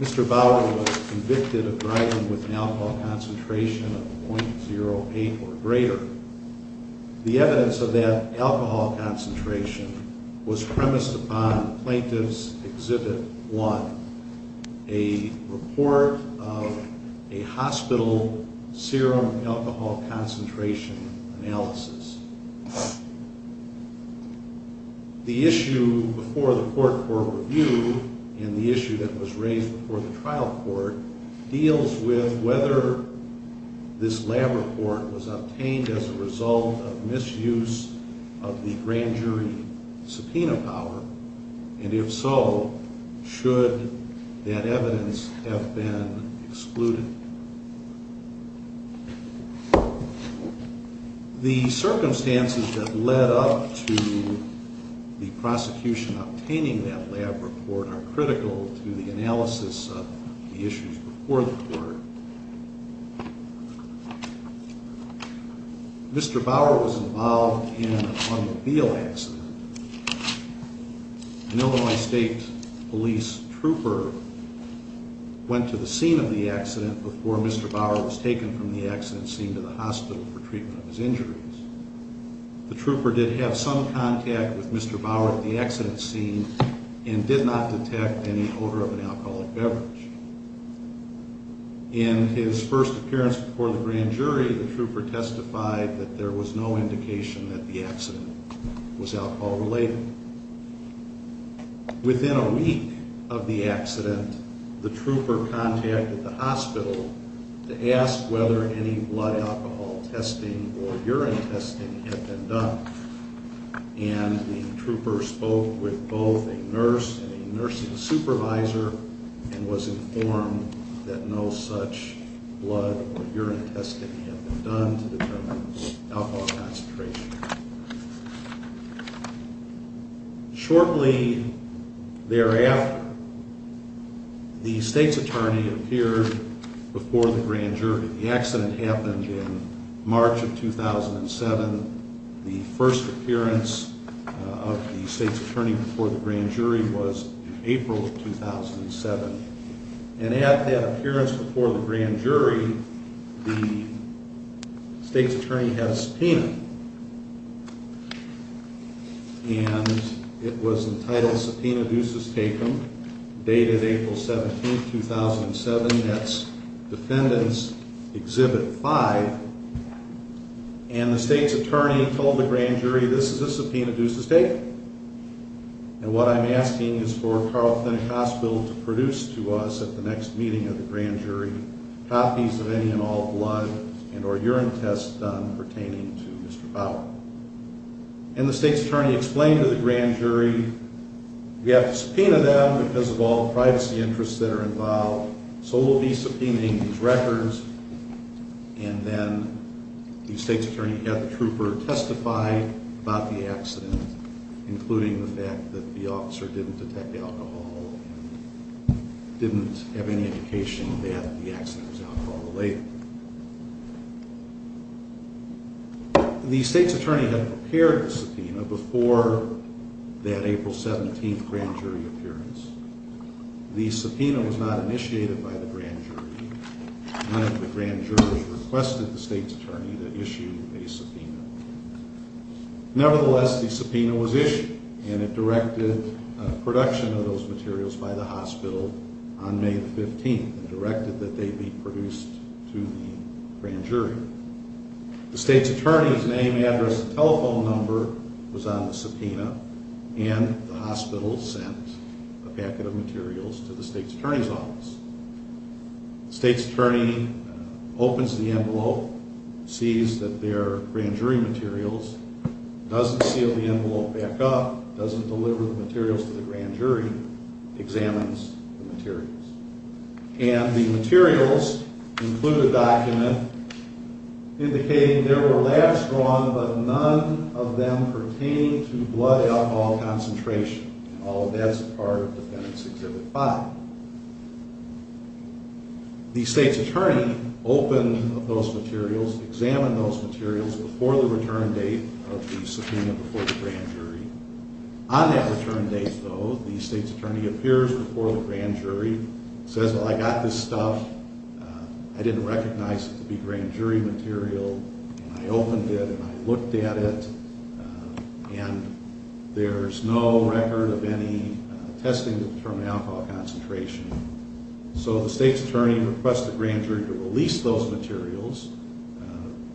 Mr. Bauer was convicted of driving with an alcohol concentration of 0.08 or greater. The evidence of that alcohol concentration was premised upon Plaintiff's Exhibit 1, a report of a hospital serum alcohol concentration analysis. The issue before the court for review and the issue that was raised before the trial court deals with whether this lab report was obtained as a result of misuse of the grand jury subpoena power, and if so, should that evidence have been excluded. The circumstances that led up to the prosecution obtaining that lab report are critical to the before the court. Mr. Bauer was involved in an automobile accident. An Illinois State Police trooper went to the scene of the accident before Mr. Bauer was taken from the accident scene to the hospital for treatment of his injuries. The trooper did have some contact with Mr. Bauer at the time of the accident, but he did not have an alcoholic beverage. In his first appearance before the grand jury, the trooper testified that there was no indication that the accident was alcohol related. Within a week of the accident, the trooper contacted the hospital to ask whether any blood alcohol testing or urine testing had been done, and the trooper spoke with both a nurse and a nursing supervisor and was informed that no such blood or urine testing had been done to determine the alcohol concentration. Shortly thereafter, the state's attorney appeared before the grand jury. The accident happened in March of 2007. The first appearance of the state's attorney was in April of 2007, and at that appearance before the grand jury, the state's attorney had a subpoena, and it was entitled Subpoena Ducis Tecum, dated April 17, 2007, that's Defendants Exhibit 5, and the state's attorney told the grand jury this is a subpoena ducis tecum, and what I'm asking is for Carl Finnecasville to produce to us at the next meeting of the grand jury copies of any and all blood and or urine tests done pertaining to Mr. Bauer, and the state's attorney explained to the grand jury we have to subpoena them because of all the privacy interests that are involved, so we'll be subpoenaing these records, and then the state's attorney had the trooper testify about the accident, including the fact that the officer didn't detect alcohol and didn't have any indication that the accident was alcohol related. The state's attorney had prepared the subpoena before that April 17th grand jury appearance. The subpoena was not initiated by the grand jury. None of the grand jurors requested the state's attorney to do that. Nevertheless, the subpoena was issued, and it directed production of those materials by the hospital on May the 15th, and directed that they be produced to the grand jury. The state's attorney's name, address, and telephone number was on the subpoena, and the hospital sent a packet of materials to the state's attorney's office. The state's attorney opens the envelope, sees that they're grand jury materials, doesn't seal the envelope back up, doesn't deliver the materials to the grand jury, examines the materials, and the materials include a document indicating there were labs drawn, but none of them pertain to blood alcohol concentration. All of that's a part of Defendant's Exhibit 5. The state's attorney opened those materials, examined those materials before the return date of the subpoena before the grand jury. On that return date, though, the state's attorney appears before the grand jury, says, well, I got this stuff. I didn't recognize it to be grand jury material, and I opened it, and I looked at it, and there's no record of any testing to determine alcohol concentration. So the state's attorney requests the grand jury to release those materials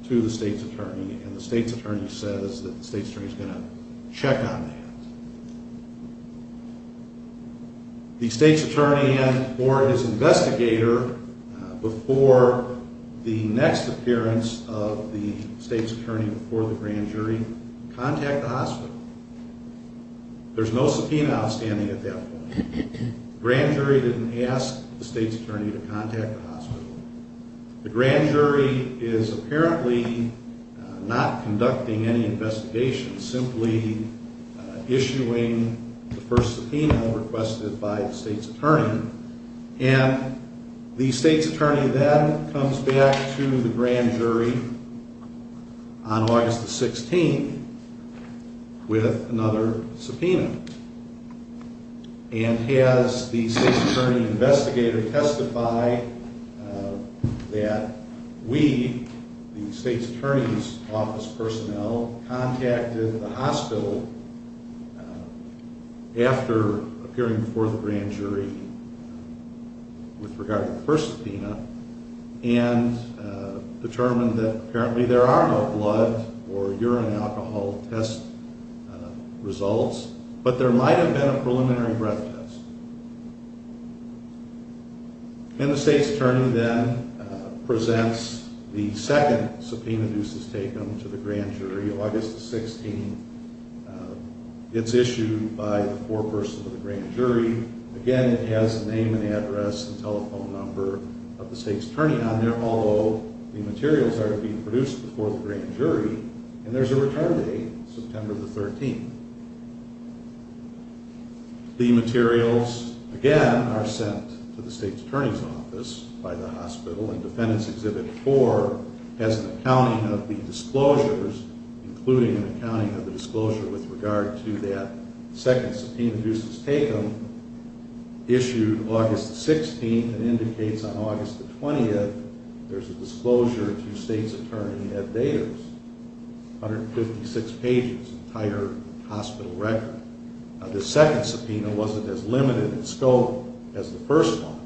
to the state's attorney, and the state's attorney says that the state's attorney is going to the state's attorney before the grand jury, contact the hospital. There's no subpoena outstanding at that point. The grand jury didn't ask the state's attorney to contact the hospital. The grand jury is apparently not conducting any investigation, simply issuing the first subpoena requested by the state's attorney, and the state's attorney then comes back to the grand jury on August the 16th with another subpoena, and has the state's attorney investigator testify that we, the state's attorney's office personnel, contacted the hospital after appearing before the grand jury with regard to the first subpoena, and determined that apparently there are no blood or urine alcohol test results, but there might have been a preliminary breath test. And the state's attorney then presents the second subpoena news that's taken to the grand jury, August the 16th. It's issued by the foreperson of the grand jury. Again, it has the name and address and telephone number of the state's attorney on there, although the materials are being produced before the grand jury, and there's a return date, September the 13th. The materials, again, are sent to the state's attorney's office by the hospital, and including an accounting of the disclosure with regard to that second subpoena news that's taken, issued August the 16th, and indicates on August the 20th there's a disclosure to state's attorney at datas, 156 pages, entire hospital record. The second subpoena wasn't as limited in scope as the first one.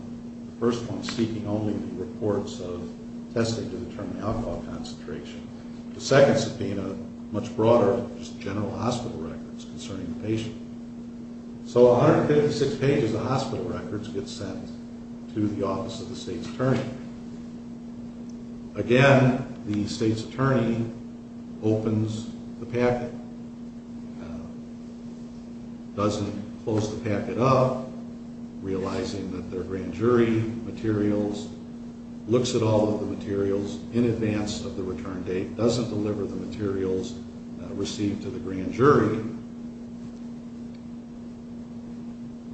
The first one's seeking only the reports of testing to determine alcohol concentration. The second subpoena, much broader, just general hospital records concerning the patient. So 156 pages of hospital records get sent to the office of the state's attorney. Again, the state's attorney opens the packet, doesn't close the packet up, realizing that their grand jury materials, looks at all of the materials of the return date, doesn't deliver the materials received to the grand jury,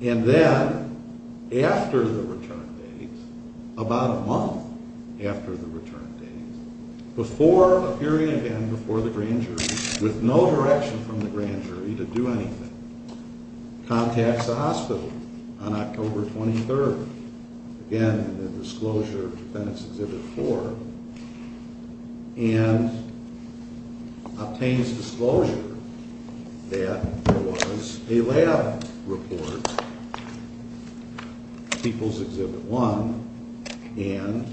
and then after the return date, about a month after the return date, before appearing again before the grand jury, with no direction from the grand jury to do anything, contacts the hospital on October 23rd, again in the disclosure of defendant's exhibit four, and obtains disclosure that there was a lab report, people's exhibit one, and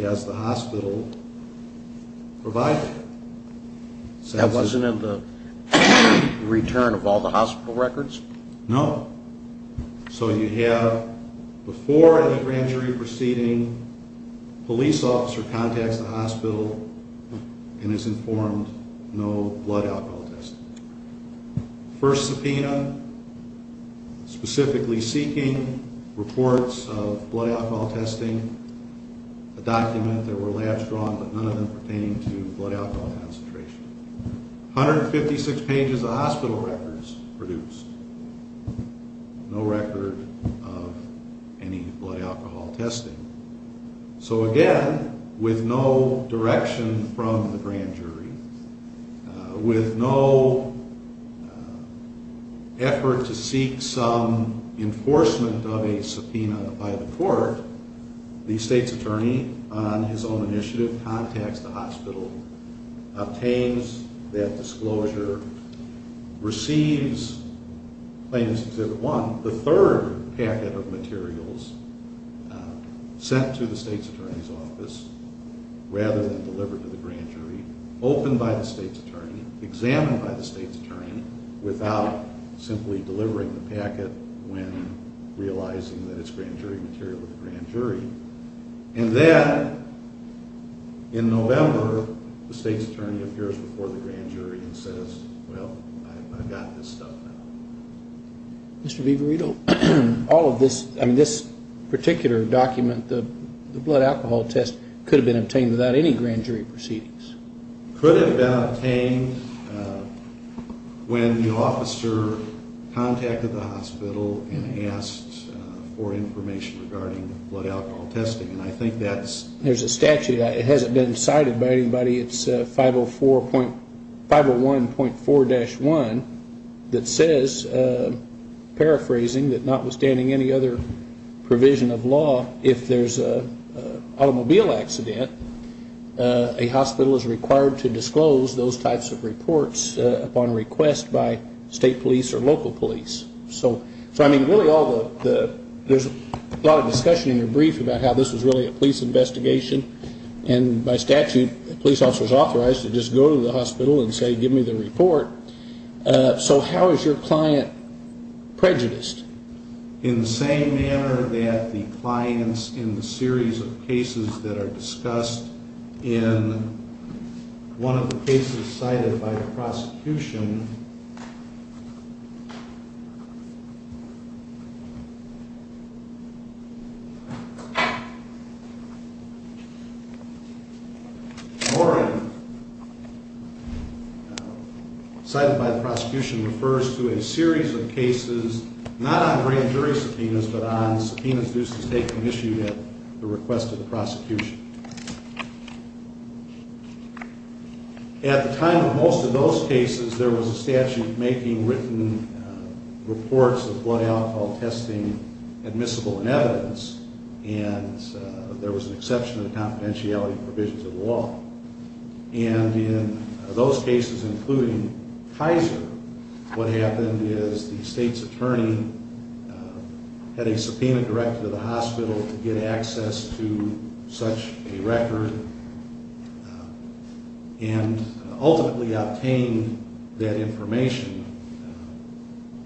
has the hospital provided it. That wasn't in the So you have, before any grand jury proceeding, police officer contacts the hospital and is informed no blood alcohol testing. First subpoena, specifically seeking reports of blood alcohol testing, a document, there were labs drawn but none of them pertained to blood alcohol concentration. 156 pages of hospital records produced. No record of any blood alcohol testing. So again, with no direction from the grand jury, with no effort to seek some enforcement of a subpoena by the court, the state's attorney on his own obtains that disclosure, receives claims to exhibit one, the third packet of materials sent to the state's attorney's office, rather than delivered to the grand jury, opened by the state's attorney, examined by the state's attorney, without simply delivering the packet when realizing that it's grand jury material of the grand jury, and then in November, the state's attorney appears before the grand jury and says, well, I've got this stuff now. Mr. Vivarito, all of this, I mean this particular document, the blood alcohol test, could have been obtained without any grand jury proceedings? Could have been obtained when the officer contacted the hospital and asked for information regarding blood alcohol testing, and I think that's... There's a statute, it hasn't been decided by anybody, it's 501.4-1 that says, paraphrasing, that notwithstanding any other provision of law, if there's an automobile accident, a hospital is required to disclose those types of reports upon request by state police or local police. So I mean really all the, there's a lot of discussion in your brief about how this was really a police investigation, and by statute, police officers are authorized to just go to the hospital and say, give me the report. So how is your client prejudiced? In the same manner that the clients in the series of cases that are discussed in one of the cases cited by the prosecution, or cited by the prosecution refers to a series of cases, not on grand jury subpoenas, but on subpoenas due to state commission at the request of the hospital. In those cases, there was a statute making written reports of blood alcohol testing admissible in evidence, and there was an exception to the confidentiality provisions of the law. And in those cases, including Kaiser, what happened is the state's attorney had a subpoena directed to the hospital to get access to such a record, and ultimately obtained that information.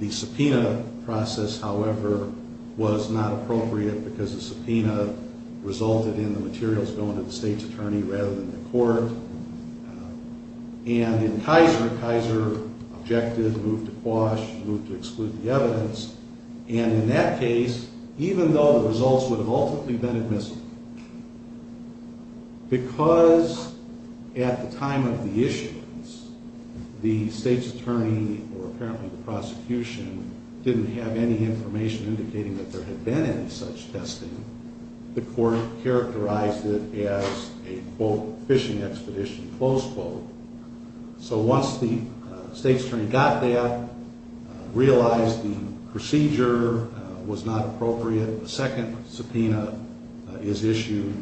The subpoena process, however, was not appropriate because the subpoena resulted in the materials going to the state's attorney rather than the court. And in Kaiser, Kaiser objected, moved to quash, moved to exclude the evidence, and in that case, even though the results would have ultimately been admissible, because at the time of the issuance, the state's attorney, or apparently the prosecution, didn't have any information indicating that there had been any such testing, the court characterized it as a, quote, fishing expedition, close quote. So once the state's procedure was not appropriate, a second subpoena is issued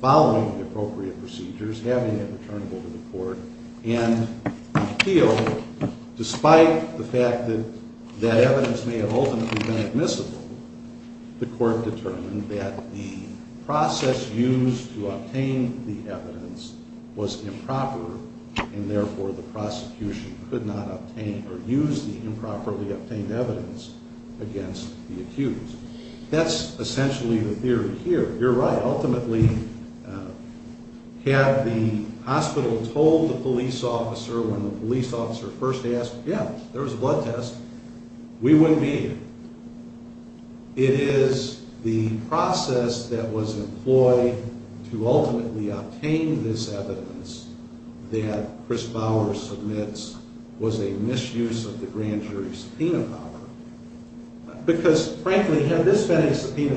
following the appropriate procedures, having it returnable to the court, and the appeal, despite the fact that that evidence may have ultimately been admissible, the court determined that the process used to obtain the evidence was improper, and therefore the prosecution could not obtain or use the evidence against the accused. That's essentially the theory here. You're right. Ultimately, had the hospital told the police officer when the police officer first asked, yeah, there was a blood test, we wouldn't be here. It is the process that was employed to ultimately obtain this evidence that Chris Bauer submits was a misuse of the grand jury subpoena power. Because frankly, had this been a subpoena,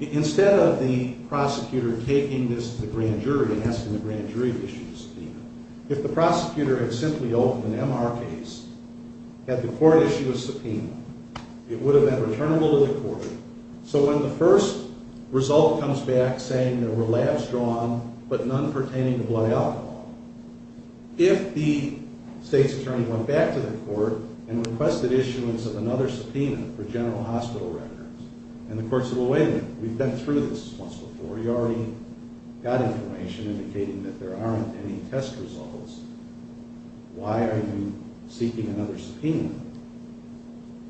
instead of the prosecutor taking this to the grand jury and asking the grand jury to issue the subpoena, if the prosecutor had simply opened an MR case, had the court issue a subpoena, it would have been returnable to the court. So when the first result comes back saying there were labs drawn, but none pertaining to blood alcohol, if the state's attorney went back to the court and requested issuance of another subpoena for general hospital records, and the court said, well, wait a minute. We've been through this once before. You already got information indicating that there aren't any test results. Why are you seeking another subpoena?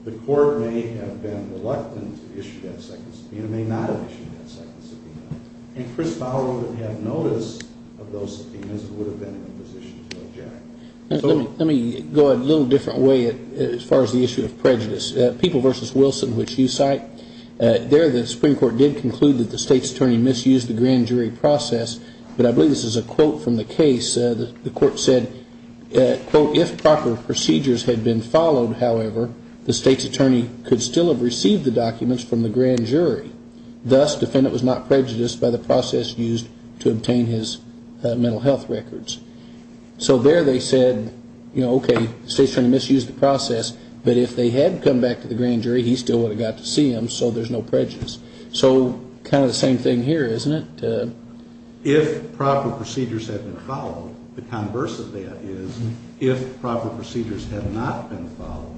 The court may have been reluctant to issue that second subpoena, may not have issued that second subpoena, and Chris Bauer would have noticed of those subpoenas and would have been in a position to object. Let me go a little different way as far as the issue of prejudice. People v. Wilson, which you cite, there the Supreme Court did conclude that the state's attorney misused the grand jury process, but I believe this is a quote from the case. The court said, if proper procedures had been followed, however, the state's attorney could still have received the documents from the grand jury. Thus, defendant was not prejudiced by the process used to obtain mental health records. So there they said, okay, the state's attorney misused the process, but if they had come back to the grand jury, he still would have got to see them, so there's no prejudice. So kind of the same thing here, isn't it? If proper procedures had been followed, the converse of that is, if proper procedures had not been followed...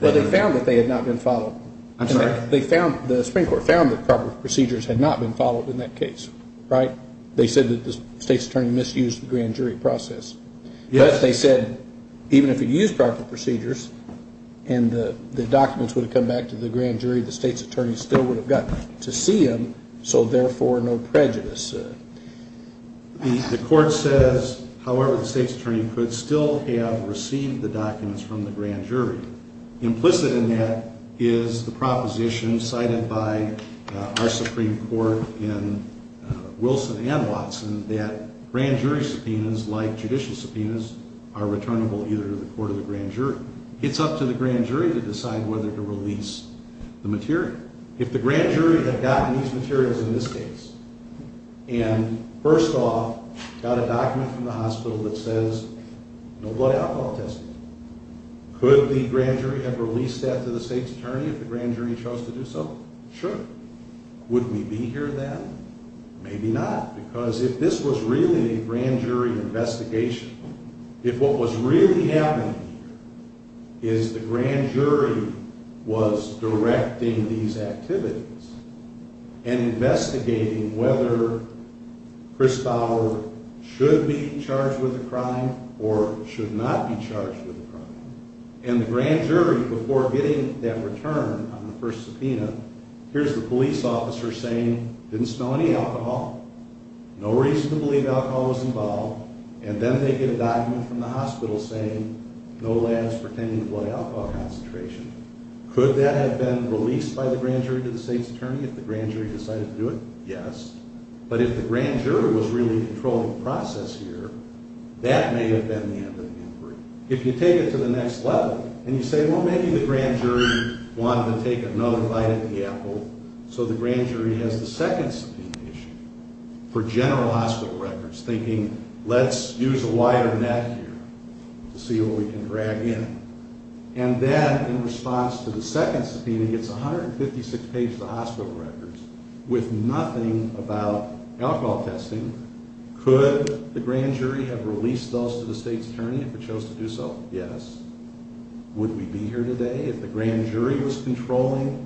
Well, they found that they had not been followed. I'm sorry? The Supreme Court found that proper procedures had not been followed in that case, right? They said that the state's attorney misused the grand jury process, but they said even if it used proper procedures and the documents would have come back to the grand jury, the state's attorney still would have got to see them, so therefore no prejudice. The court says, however, the state's attorney could still have received the documents from the grand jury. Implicit in that is the proposition cited by our Supreme Court in Wilson and Watson that grand jury subpoenas, like judicial subpoenas, are returnable either to the court or the grand jury. It's up to the grand jury to decide whether to release the material. If the grand jury had gotten these materials in this case and, first off, got a document from the hospital that says no blood alcohol tested, could the grand jury have released that to the court? Maybe not, because if this was really a grand jury investigation, if what was really happening here is the grand jury was directing these activities and investigating whether Chris Bauer should be charged with a crime or should not be charged with a crime, and the grand jury, before getting that return on the first subpoena, here's the police officer saying didn't smell any alcohol, no reason to believe alcohol was involved, and then they get a document from the hospital saying no labs pretending to blood alcohol concentration. Could that have been released by the grand jury to the state's attorney if the grand jury decided to do it? Yes, but if the grand jury was really controlling the process here, that may have been the end of the inquiry. If you take it to the next level and you say, well, maybe the grand jury wanted to take another bite of the apple, so the grand jury has the second subpoena issued for general hospital records, thinking let's use a wider net here to see what we can drag in, and then in response to the second subpoena gets 156 pages of hospital records with nothing about alcohol testing. Could the grand jury have released those to the state's attorney if it chose to do so? Yes. Would we be here today if the grand jury did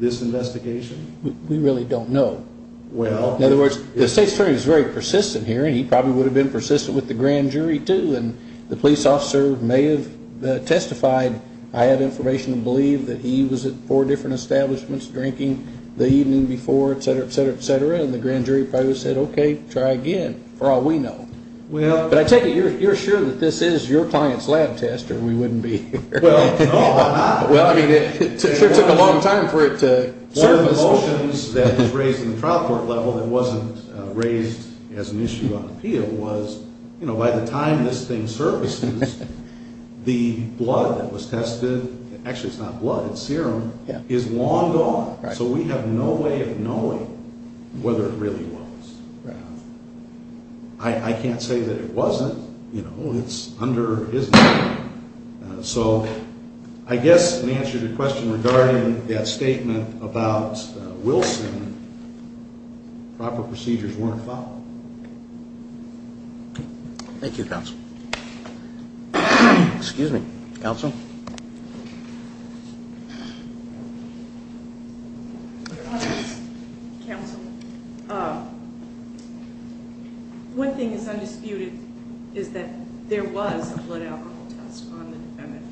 this investigation? We really don't know. Well, in other words, the state's attorney is very persistent here, and he probably would have been persistent with the grand jury too, and the police officer may have testified I had information to believe that he was at four different establishments drinking the evening before, etc., etc., etc., and the grand jury probably said okay, try again for all we know. Well, but I take it you're sure that this is your client's lab test, or we wouldn't be here? Well, why not? Well, I mean, it sure took a long time for it to surface. One of the motions that was raised in the trial court level that wasn't raised as an issue on appeal was, you know, by the time this thing surfaces, the blood that was tested, actually it's not blood, it's serum, is long gone, so we have no way of knowing whether it really was. I can't say that it wasn't, you know, it's under his name, so I guess in answer to your question regarding that statement about Wilson, proper procedures weren't followed. Thank you, counsel. Excuse me, counsel? Counsel, one thing is undisputed is that there was a blood alcohol test on the defendant,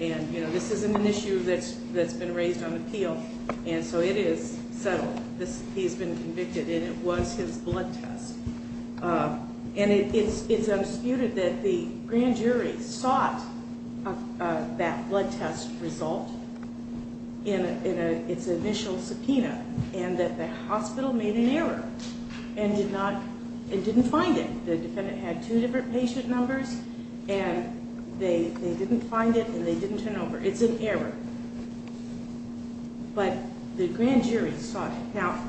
and, you know, this isn't an issue that's been raised on appeal, and so it is settled. He's been convicted and it was his blood test, and it's undisputed that the that blood test resulted in its initial subpoena, and that the hospital made an error and did not, it didn't find it. The defendant had two different patient numbers, and they didn't find it, and they didn't turn over. It's an error, but the grand jury saw it. Now,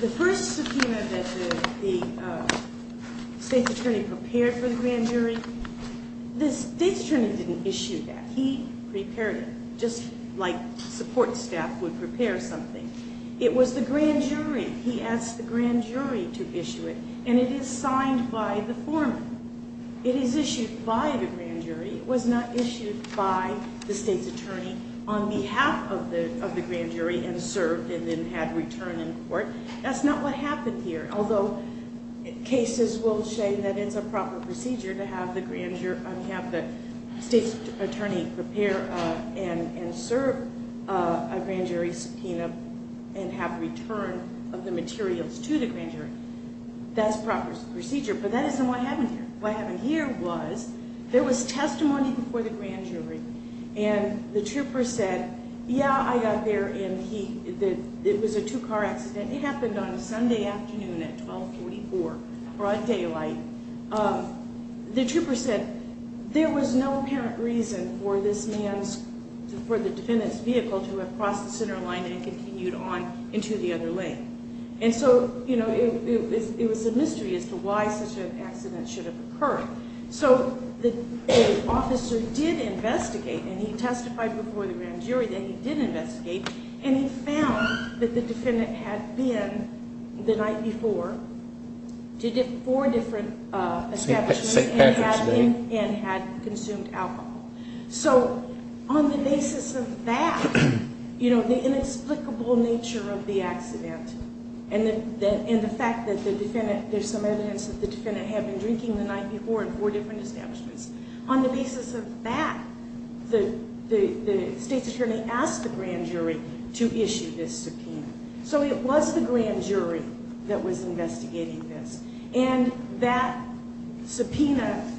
the first subpoena that the state's attorney prepared for the grand jury, the state's attorney didn't issue that. He prepared it, just like support staff would prepare something. It was the grand jury. He asked the grand jury to issue it, and it is signed by the former. It is issued by the grand jury. It was not issued by the state's attorney on behalf of the grand jury and served and then had return in court. That's not what happened here, although cases will say that it's a proper procedure to have the grand jury, have the state's attorney prepare and serve a grand jury subpoena and have return of the materials to the grand jury. That's proper procedure, but that isn't what happened here. What happened here was there was a two-car accident. It happened on a Sunday afternoon at 1244, broad daylight. The trooper said there was no apparent reason for this man's, for the defendant's vehicle to have crossed the center line and continued on into the other lane. And so, you know, it was a mystery as to why such an accident should have occurred. So the officer did investigate, and he did investigate, and he found that the defendant had been the night before to four different establishments and had consumed alcohol. So on the basis of that, you know, the inexplicable nature of the accident and the fact that the defendant, there's some evidence that the defendant had been drinking the night before in four different establishments. On the basis of that, the grand jury to issue this subpoena. So it was the grand jury that was investigating this, and that subpoena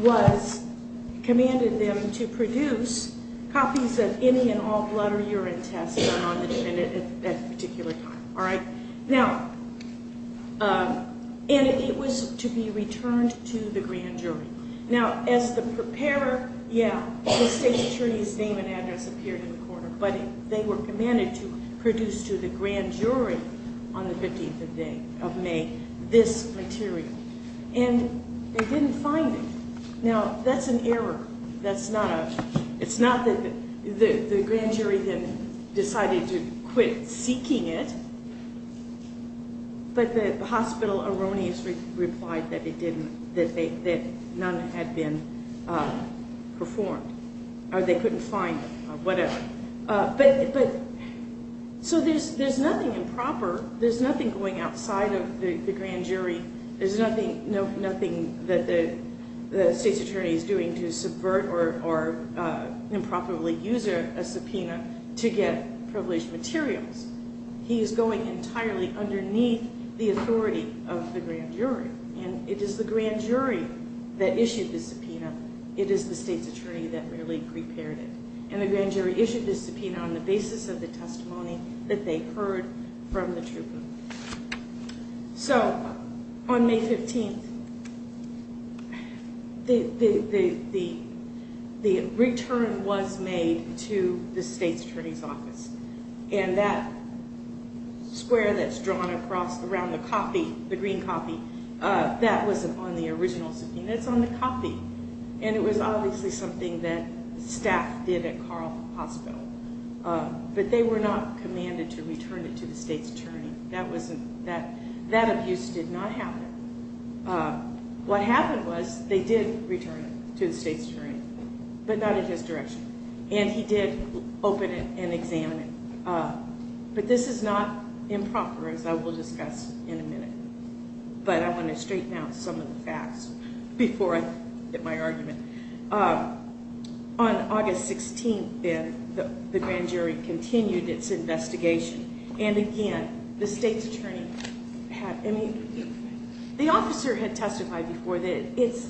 was, commanded them to produce copies of any and all blood or urine tests done on the defendant at that particular time, all right? Now, and it was to be returned to the grand jury. Now, as the preparer, yeah, the state attorney's name and address appeared in the corner, but they were commanded to produce to the grand jury on the 15th of May this material, and they didn't find it. Now, that's an error. That's not a, it's not that the grand jury then decided to quit seeking it, but the hospital erroneously replied that it didn't, that they, that none had been performed, or they couldn't find it, or whatever. But, but, so there's, there's nothing improper. There's nothing going outside of the grand jury. There's nothing, no, nothing that the the state's attorney is doing to subvert or, or improperly use a subpoena to get materials. He is going entirely underneath the authority of the grand jury, and it is the grand jury that issued the subpoena. It is the state's attorney that really prepared it, and the grand jury issued the subpoena on the basis of the testimony that they heard from the trooper. So, on May 15th, the, the, the, the return was made to the state's attorney's office, and that square that's drawn across around the copy, the green copy, that was on the original subpoena. It's on the copy, and it was obviously something that staff did at Carl Hospital, but they were not commanded to return it to the state's attorney. That wasn't, that, that abuse did not happen. What happened was, they did return it to the state's attorney, but not in his direction, and he did open it and examine it. But this is not improper, as I will discuss in a minute, but I want to straighten out some of the facts before I get my argument. On August 16th, then, the grand jury continued its investigation, and again, the state's attorney had, I mean, the officer had testified before that it's,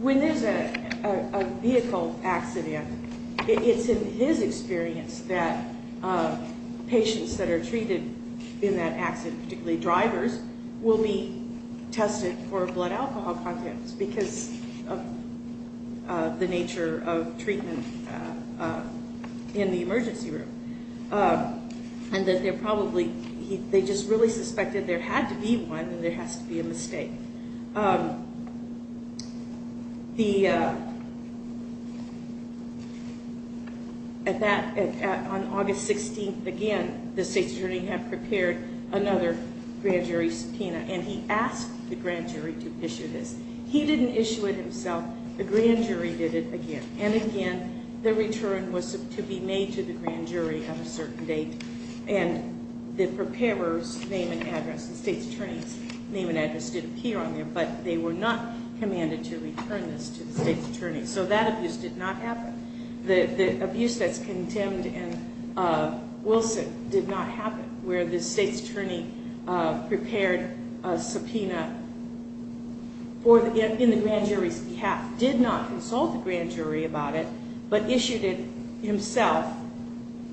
when there's a vehicle accident, it's in his experience that patients that are treated in that accident, particularly drivers, will be tested for blood alcohol contents because of the nature of treatment in the emergency room, and that they're probably, they just really suspected there had to be one, and there has to be a mistake. The, at that, on August 16th, again, the state's attorney had prepared another grand jury subpoena, and he asked the grand jury to issue this. He didn't issue it himself, the grand jury did it again, and again, the return was to be made to the grand jury at a certain date, and the preparer's name and address, the state's attorney's name and address did appear on there, but they were not commanded to return this to the state's attorney, so that did not happen. The abuse that's condemned in Wilson did not happen, where the state's attorney prepared a subpoena in the grand jury's behalf, did not consult the grand jury about it, but issued it himself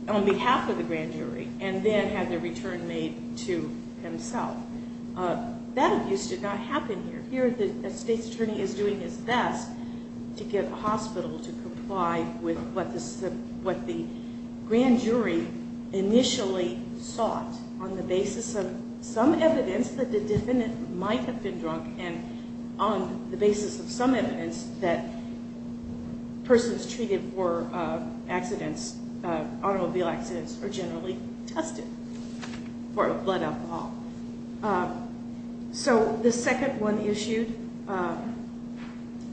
on behalf of the grand jury, and then had the return made to himself. That abuse did not happen here. Here, the state's attorney is doing his best to get a hospital to comply with what the grand jury initially sought on the basis of some evidence that the defendant might have been drunk, and on the basis of some evidence that persons treated for accidents, automobile accidents, are generally tested for blood alcohol. So the second one issued,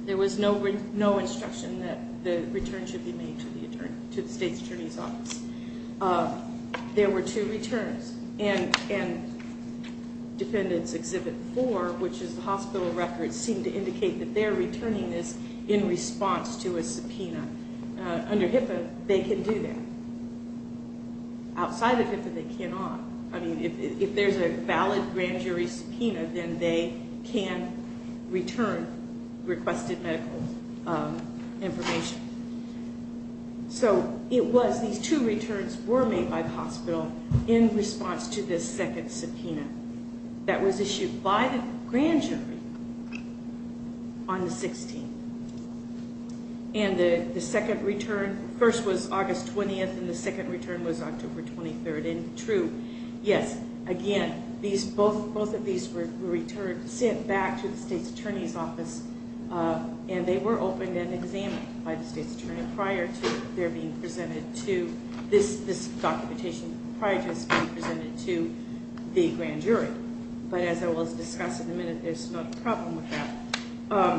there was no instruction that the return should be made to the attorney, to the state's attorney's office. There were two returns, and defendants exhibit four, which is the hospital records, seem to indicate that they're returning this in response to a subpoena. Under HIPAA, they can do that. Outside of HIPAA, they cannot. I mean, if there's a valid grand jury subpoena, then they can return requested medical information. So it was, these two returns were made by the hospital in response to this second subpoena that was issued by the grand jury on the 16th. And the second return, first was August 20th, and the second return was October 23rd. And true, yes, again, both of these were returned, sent back to the state's attorney's office, and they were opened and examined by the state's attorney prior to their being presented to this documentation, prior to this being presented to the grand jury. But as I will discuss in a minute, there's no problem with that.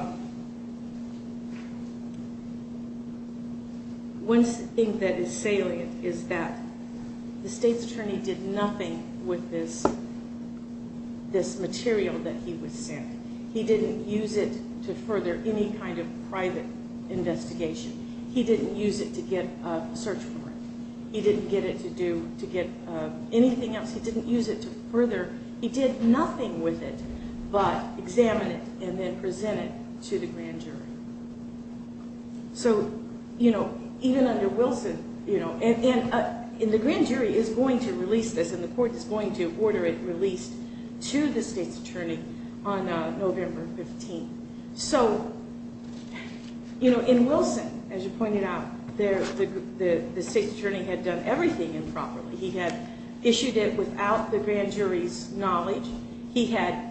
One thing that is salient is that the state's attorney did nothing with this material that he was sent. He didn't use it to further any kind of private investigation. He didn't use it to get a search warrant. He didn't get it to do, to get anything else. He didn't use it to further, he did nothing with it but examine it and then present it to the grand jury. So, you know, even under Wilson, you know, and the grand jury is going to release this, and the court is going to order it released to the state's attorney on November 15th. So, you know, in Wilson, as you pointed out, the state's attorney had done everything improperly. He had issued it without the grand jury's knowledge. He had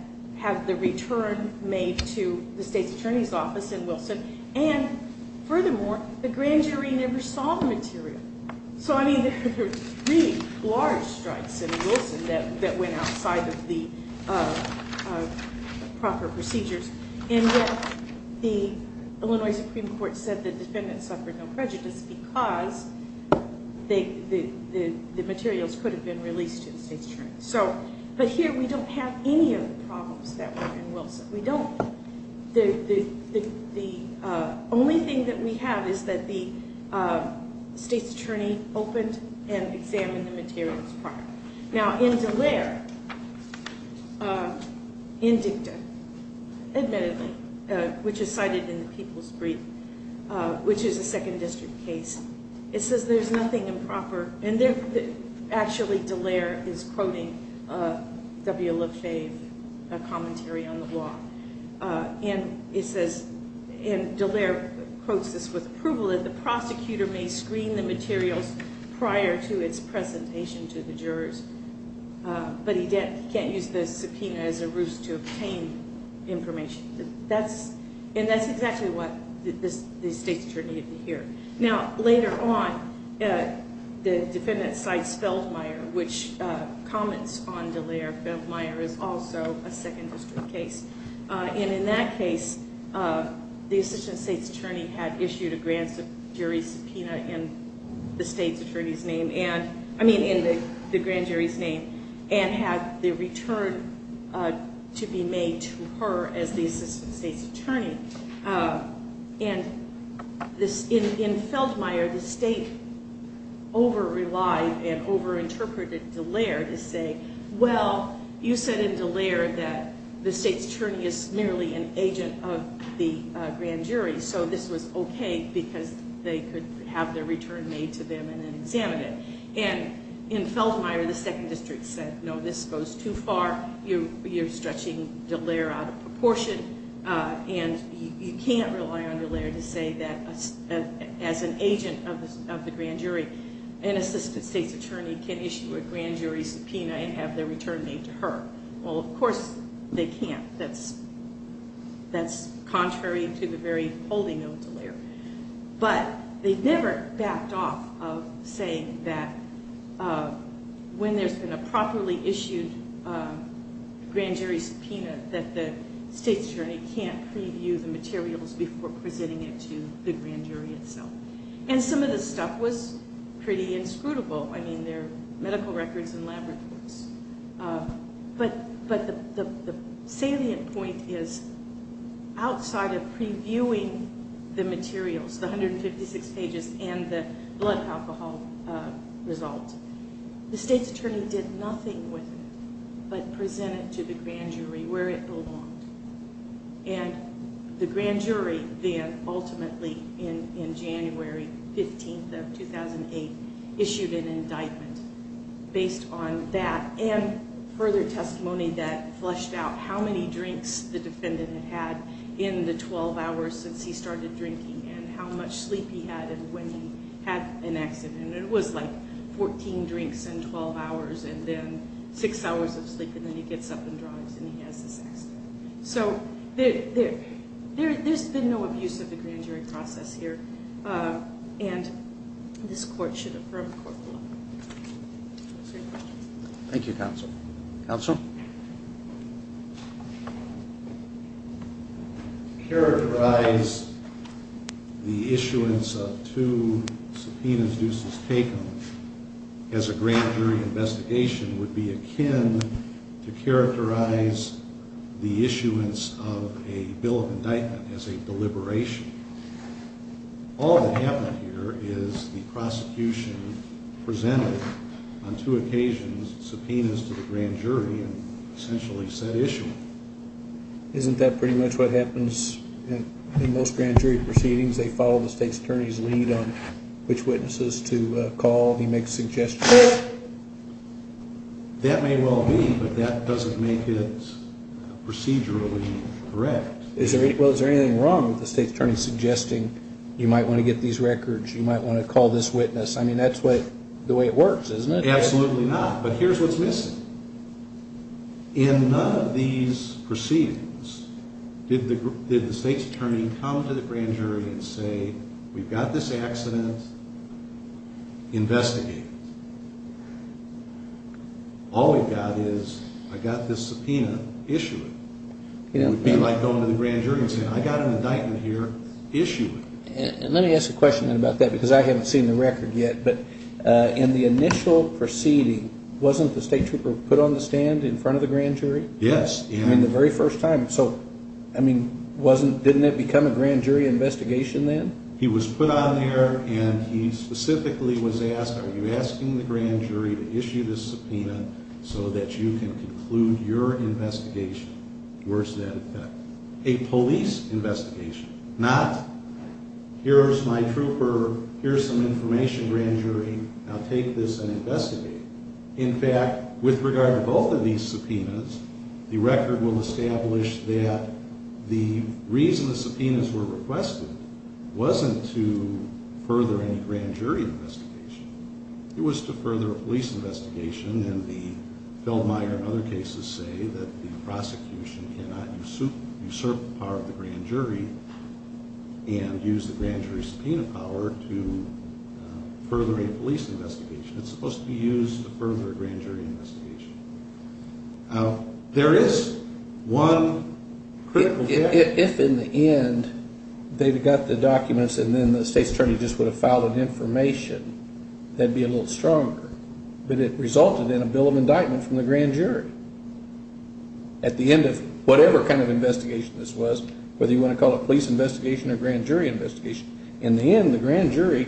the return made to the state's attorney's office in Wilson. And furthermore, the grand jury never saw the material. So, I mean, there were three large strikes in Wilson that went outside of the proper procedures. And yet the Illinois Supreme Court said the defendant suffered no prejudice because the materials could have been released to the state's attorney. So, but here we don't have any of the problems that were in Wilson. We don't. The only thing that we have is that the state's attorney opened and examined the materials prior. Now, in DeLair, in Dicta, admittedly, which is cited in the People's Brief, which is a second district case, it says there's nothing improper. And actually, DeLair is quoting W. Lefebvre commentary on the law. And it says, and DeLair quotes this with approval, that the prosecutor may screen the defendant, but he can't use the subpoena as a ruse to obtain information. And that's exactly what the state's attorney had to hear. Now, later on, the defendant cites Feldmeier, which comments on DeLair. Feldmeier is also a second district case. And in that case, the assistant state's attorney had issued a grand jury subpoena in the state's attorney's name and, in the grand jury's name, and had the return to be made to her as the assistant state's attorney. And in Feldmeier, the state over-relied and over-interpreted DeLair to say, well, you said in DeLair that the state's attorney is merely an agent of the grand jury, so this was okay because they could have their return made to them and then examine it. And in Feldmeier, the second district said, no, this goes too far. You're stretching DeLair out of proportion. And you can't rely on DeLair to say that as an agent of the grand jury, an assistant state's attorney can issue a grand jury subpoena and have their return made to her. Well, of course, they can't. That's contrary to the very holding of DeLair. But they never backed off of saying that when there's been a properly issued grand jury subpoena that the state's attorney can't preview the materials before presenting it to the grand jury itself. And some of this stuff was pretty inscrutable. I mean, medical records and lab reports. But the salient point is outside of previewing the materials, the 156 pages and the blood alcohol result, the state's attorney did nothing with it but present it to the grand jury where it belonged. And the grand jury then ultimately in January 15th of 2008 issued an indictment based on that and further testimony that flushed out how many drinks the defendant had had in the 12 hours since he started drinking and how much sleep he had and when he had an accident. And it was like 14 drinks in 12 hours and then six hours of sleep and then he gets up and drives and he has this accident. So there's been no abuse of the grand jury process here. And this court should affirm the court's belief. Thank you, counsel. Counsel? To characterize the issuance of two subpoenas deuces taken as a grand jury investigation would be akin to characterize the issuance of a bill of indictment as a deliberation. All that happened here is the prosecution presented on two occasions subpoenas to the grand jury and essentially said issue. Isn't that pretty much what happens in most grand jury proceedings? They follow the state's attorney's lead on which witnesses to call. He makes suggestions. That may well be, but that doesn't make it procedurally correct. Is there? Well, is there anything wrong with the state's attorney suggesting you might want to get these records? You might want to call this witness. I mean, that's what the way it works, isn't it? Absolutely not. But here's what's missing. In none of these proceedings did the did the state's attorney come to the grand jury and say, we've got this accident investigated. All we've got is I got this subpoena. Issue it. It would be like going to the grand jury and saying, I got an indictment here. Issue it. And let me ask a question about that because I haven't seen the record yet. But in the initial proceeding, wasn't the state trooper put on the stand in front of the grand jury? Yes. I mean, the very first time. So, I mean, wasn't, didn't it become a grand jury investigation then? He was put on there and he specifically was asked, are you asking the grand jury to issue this subpoena so that you can conclude your investigation? Where's that effect? A police investigation, not here's my trooper. Here's some information, grand jury. Now take this and investigate. In fact, with regard to both of these subpoenas, the record will establish that the reason the subpoenas were requested wasn't to further any grand jury investigation. It was to further a police investigation and the Feldmeier and other cases say that the prosecution cannot usurp the power of the grand jury and use the grand jury subpoena power to further a police investigation. It's supposed to be used to further a grand jury investigation. Now there is one. If in the end they've got the documents and then the state's attorney just would have filed an information, that'd be a little stronger, but it resulted in a bill of indictment from the grand jury. At the end of whatever kind of investigation this was, whether you want to call it police investigation or grand jury investigation, in the end, the grand jury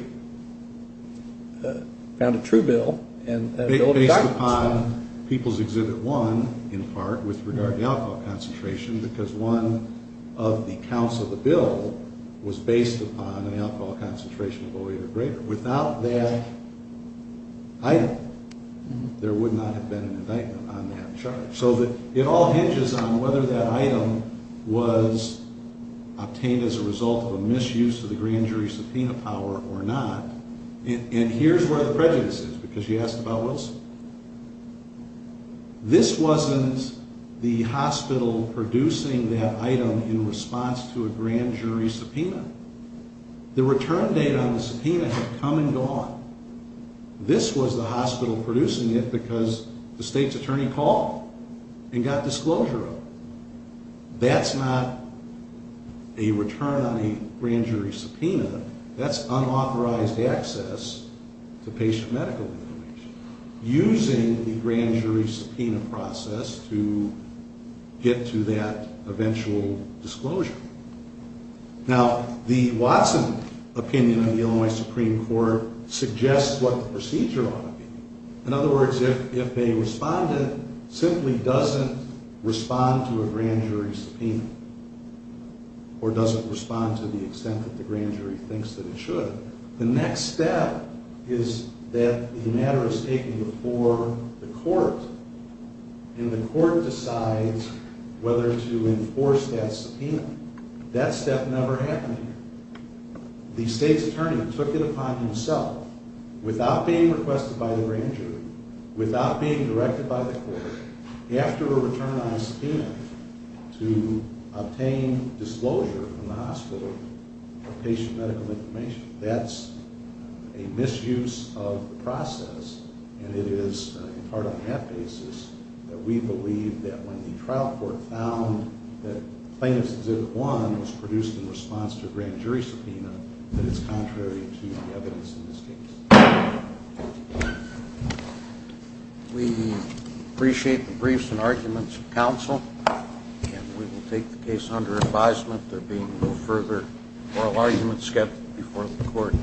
found a true bill. Based upon People's Exhibit 1 in part with regard to the alcohol concentration because one of the counts of the bill was based upon an alcohol concentration of oil or greater. Without that item, there would not have been an indictment on that charge. So it all hinges on whether that item was obtained as a result of a misuse of the grand jury subpoena power or not. And here's where the prejudice is because you asked about Wilson. This wasn't the hospital producing that item in response to a grand jury subpoena. The return date on the subpoena had come and gone. This was the hospital producing it because the state's attorney called and got disclosure of it. That's not a return on a grand jury subpoena. That's unauthorized access to patient medical information using the grand jury subpoena process to get to that eventual disclosure. Now, the Watson opinion of the Illinois Supreme Court suggests what the procedure ought to be. In other words, if a respondent simply doesn't respond to a grand jury subpoena or doesn't respond to the extent that the grand jury thinks that it should, the next step is that the matter is taken before the court and the court decides whether to enforce that subpoena. That step never happened. The state's attorney took it upon himself without being obtained disclosure from the hospital of patient medical information. That's a misuse of the process and it is in part on that basis that we believe that when the trial court found that plaintiff's exhibit one was produced in response to a grand jury subpoena that it's contrary to advisement there being no further oral argument before the court.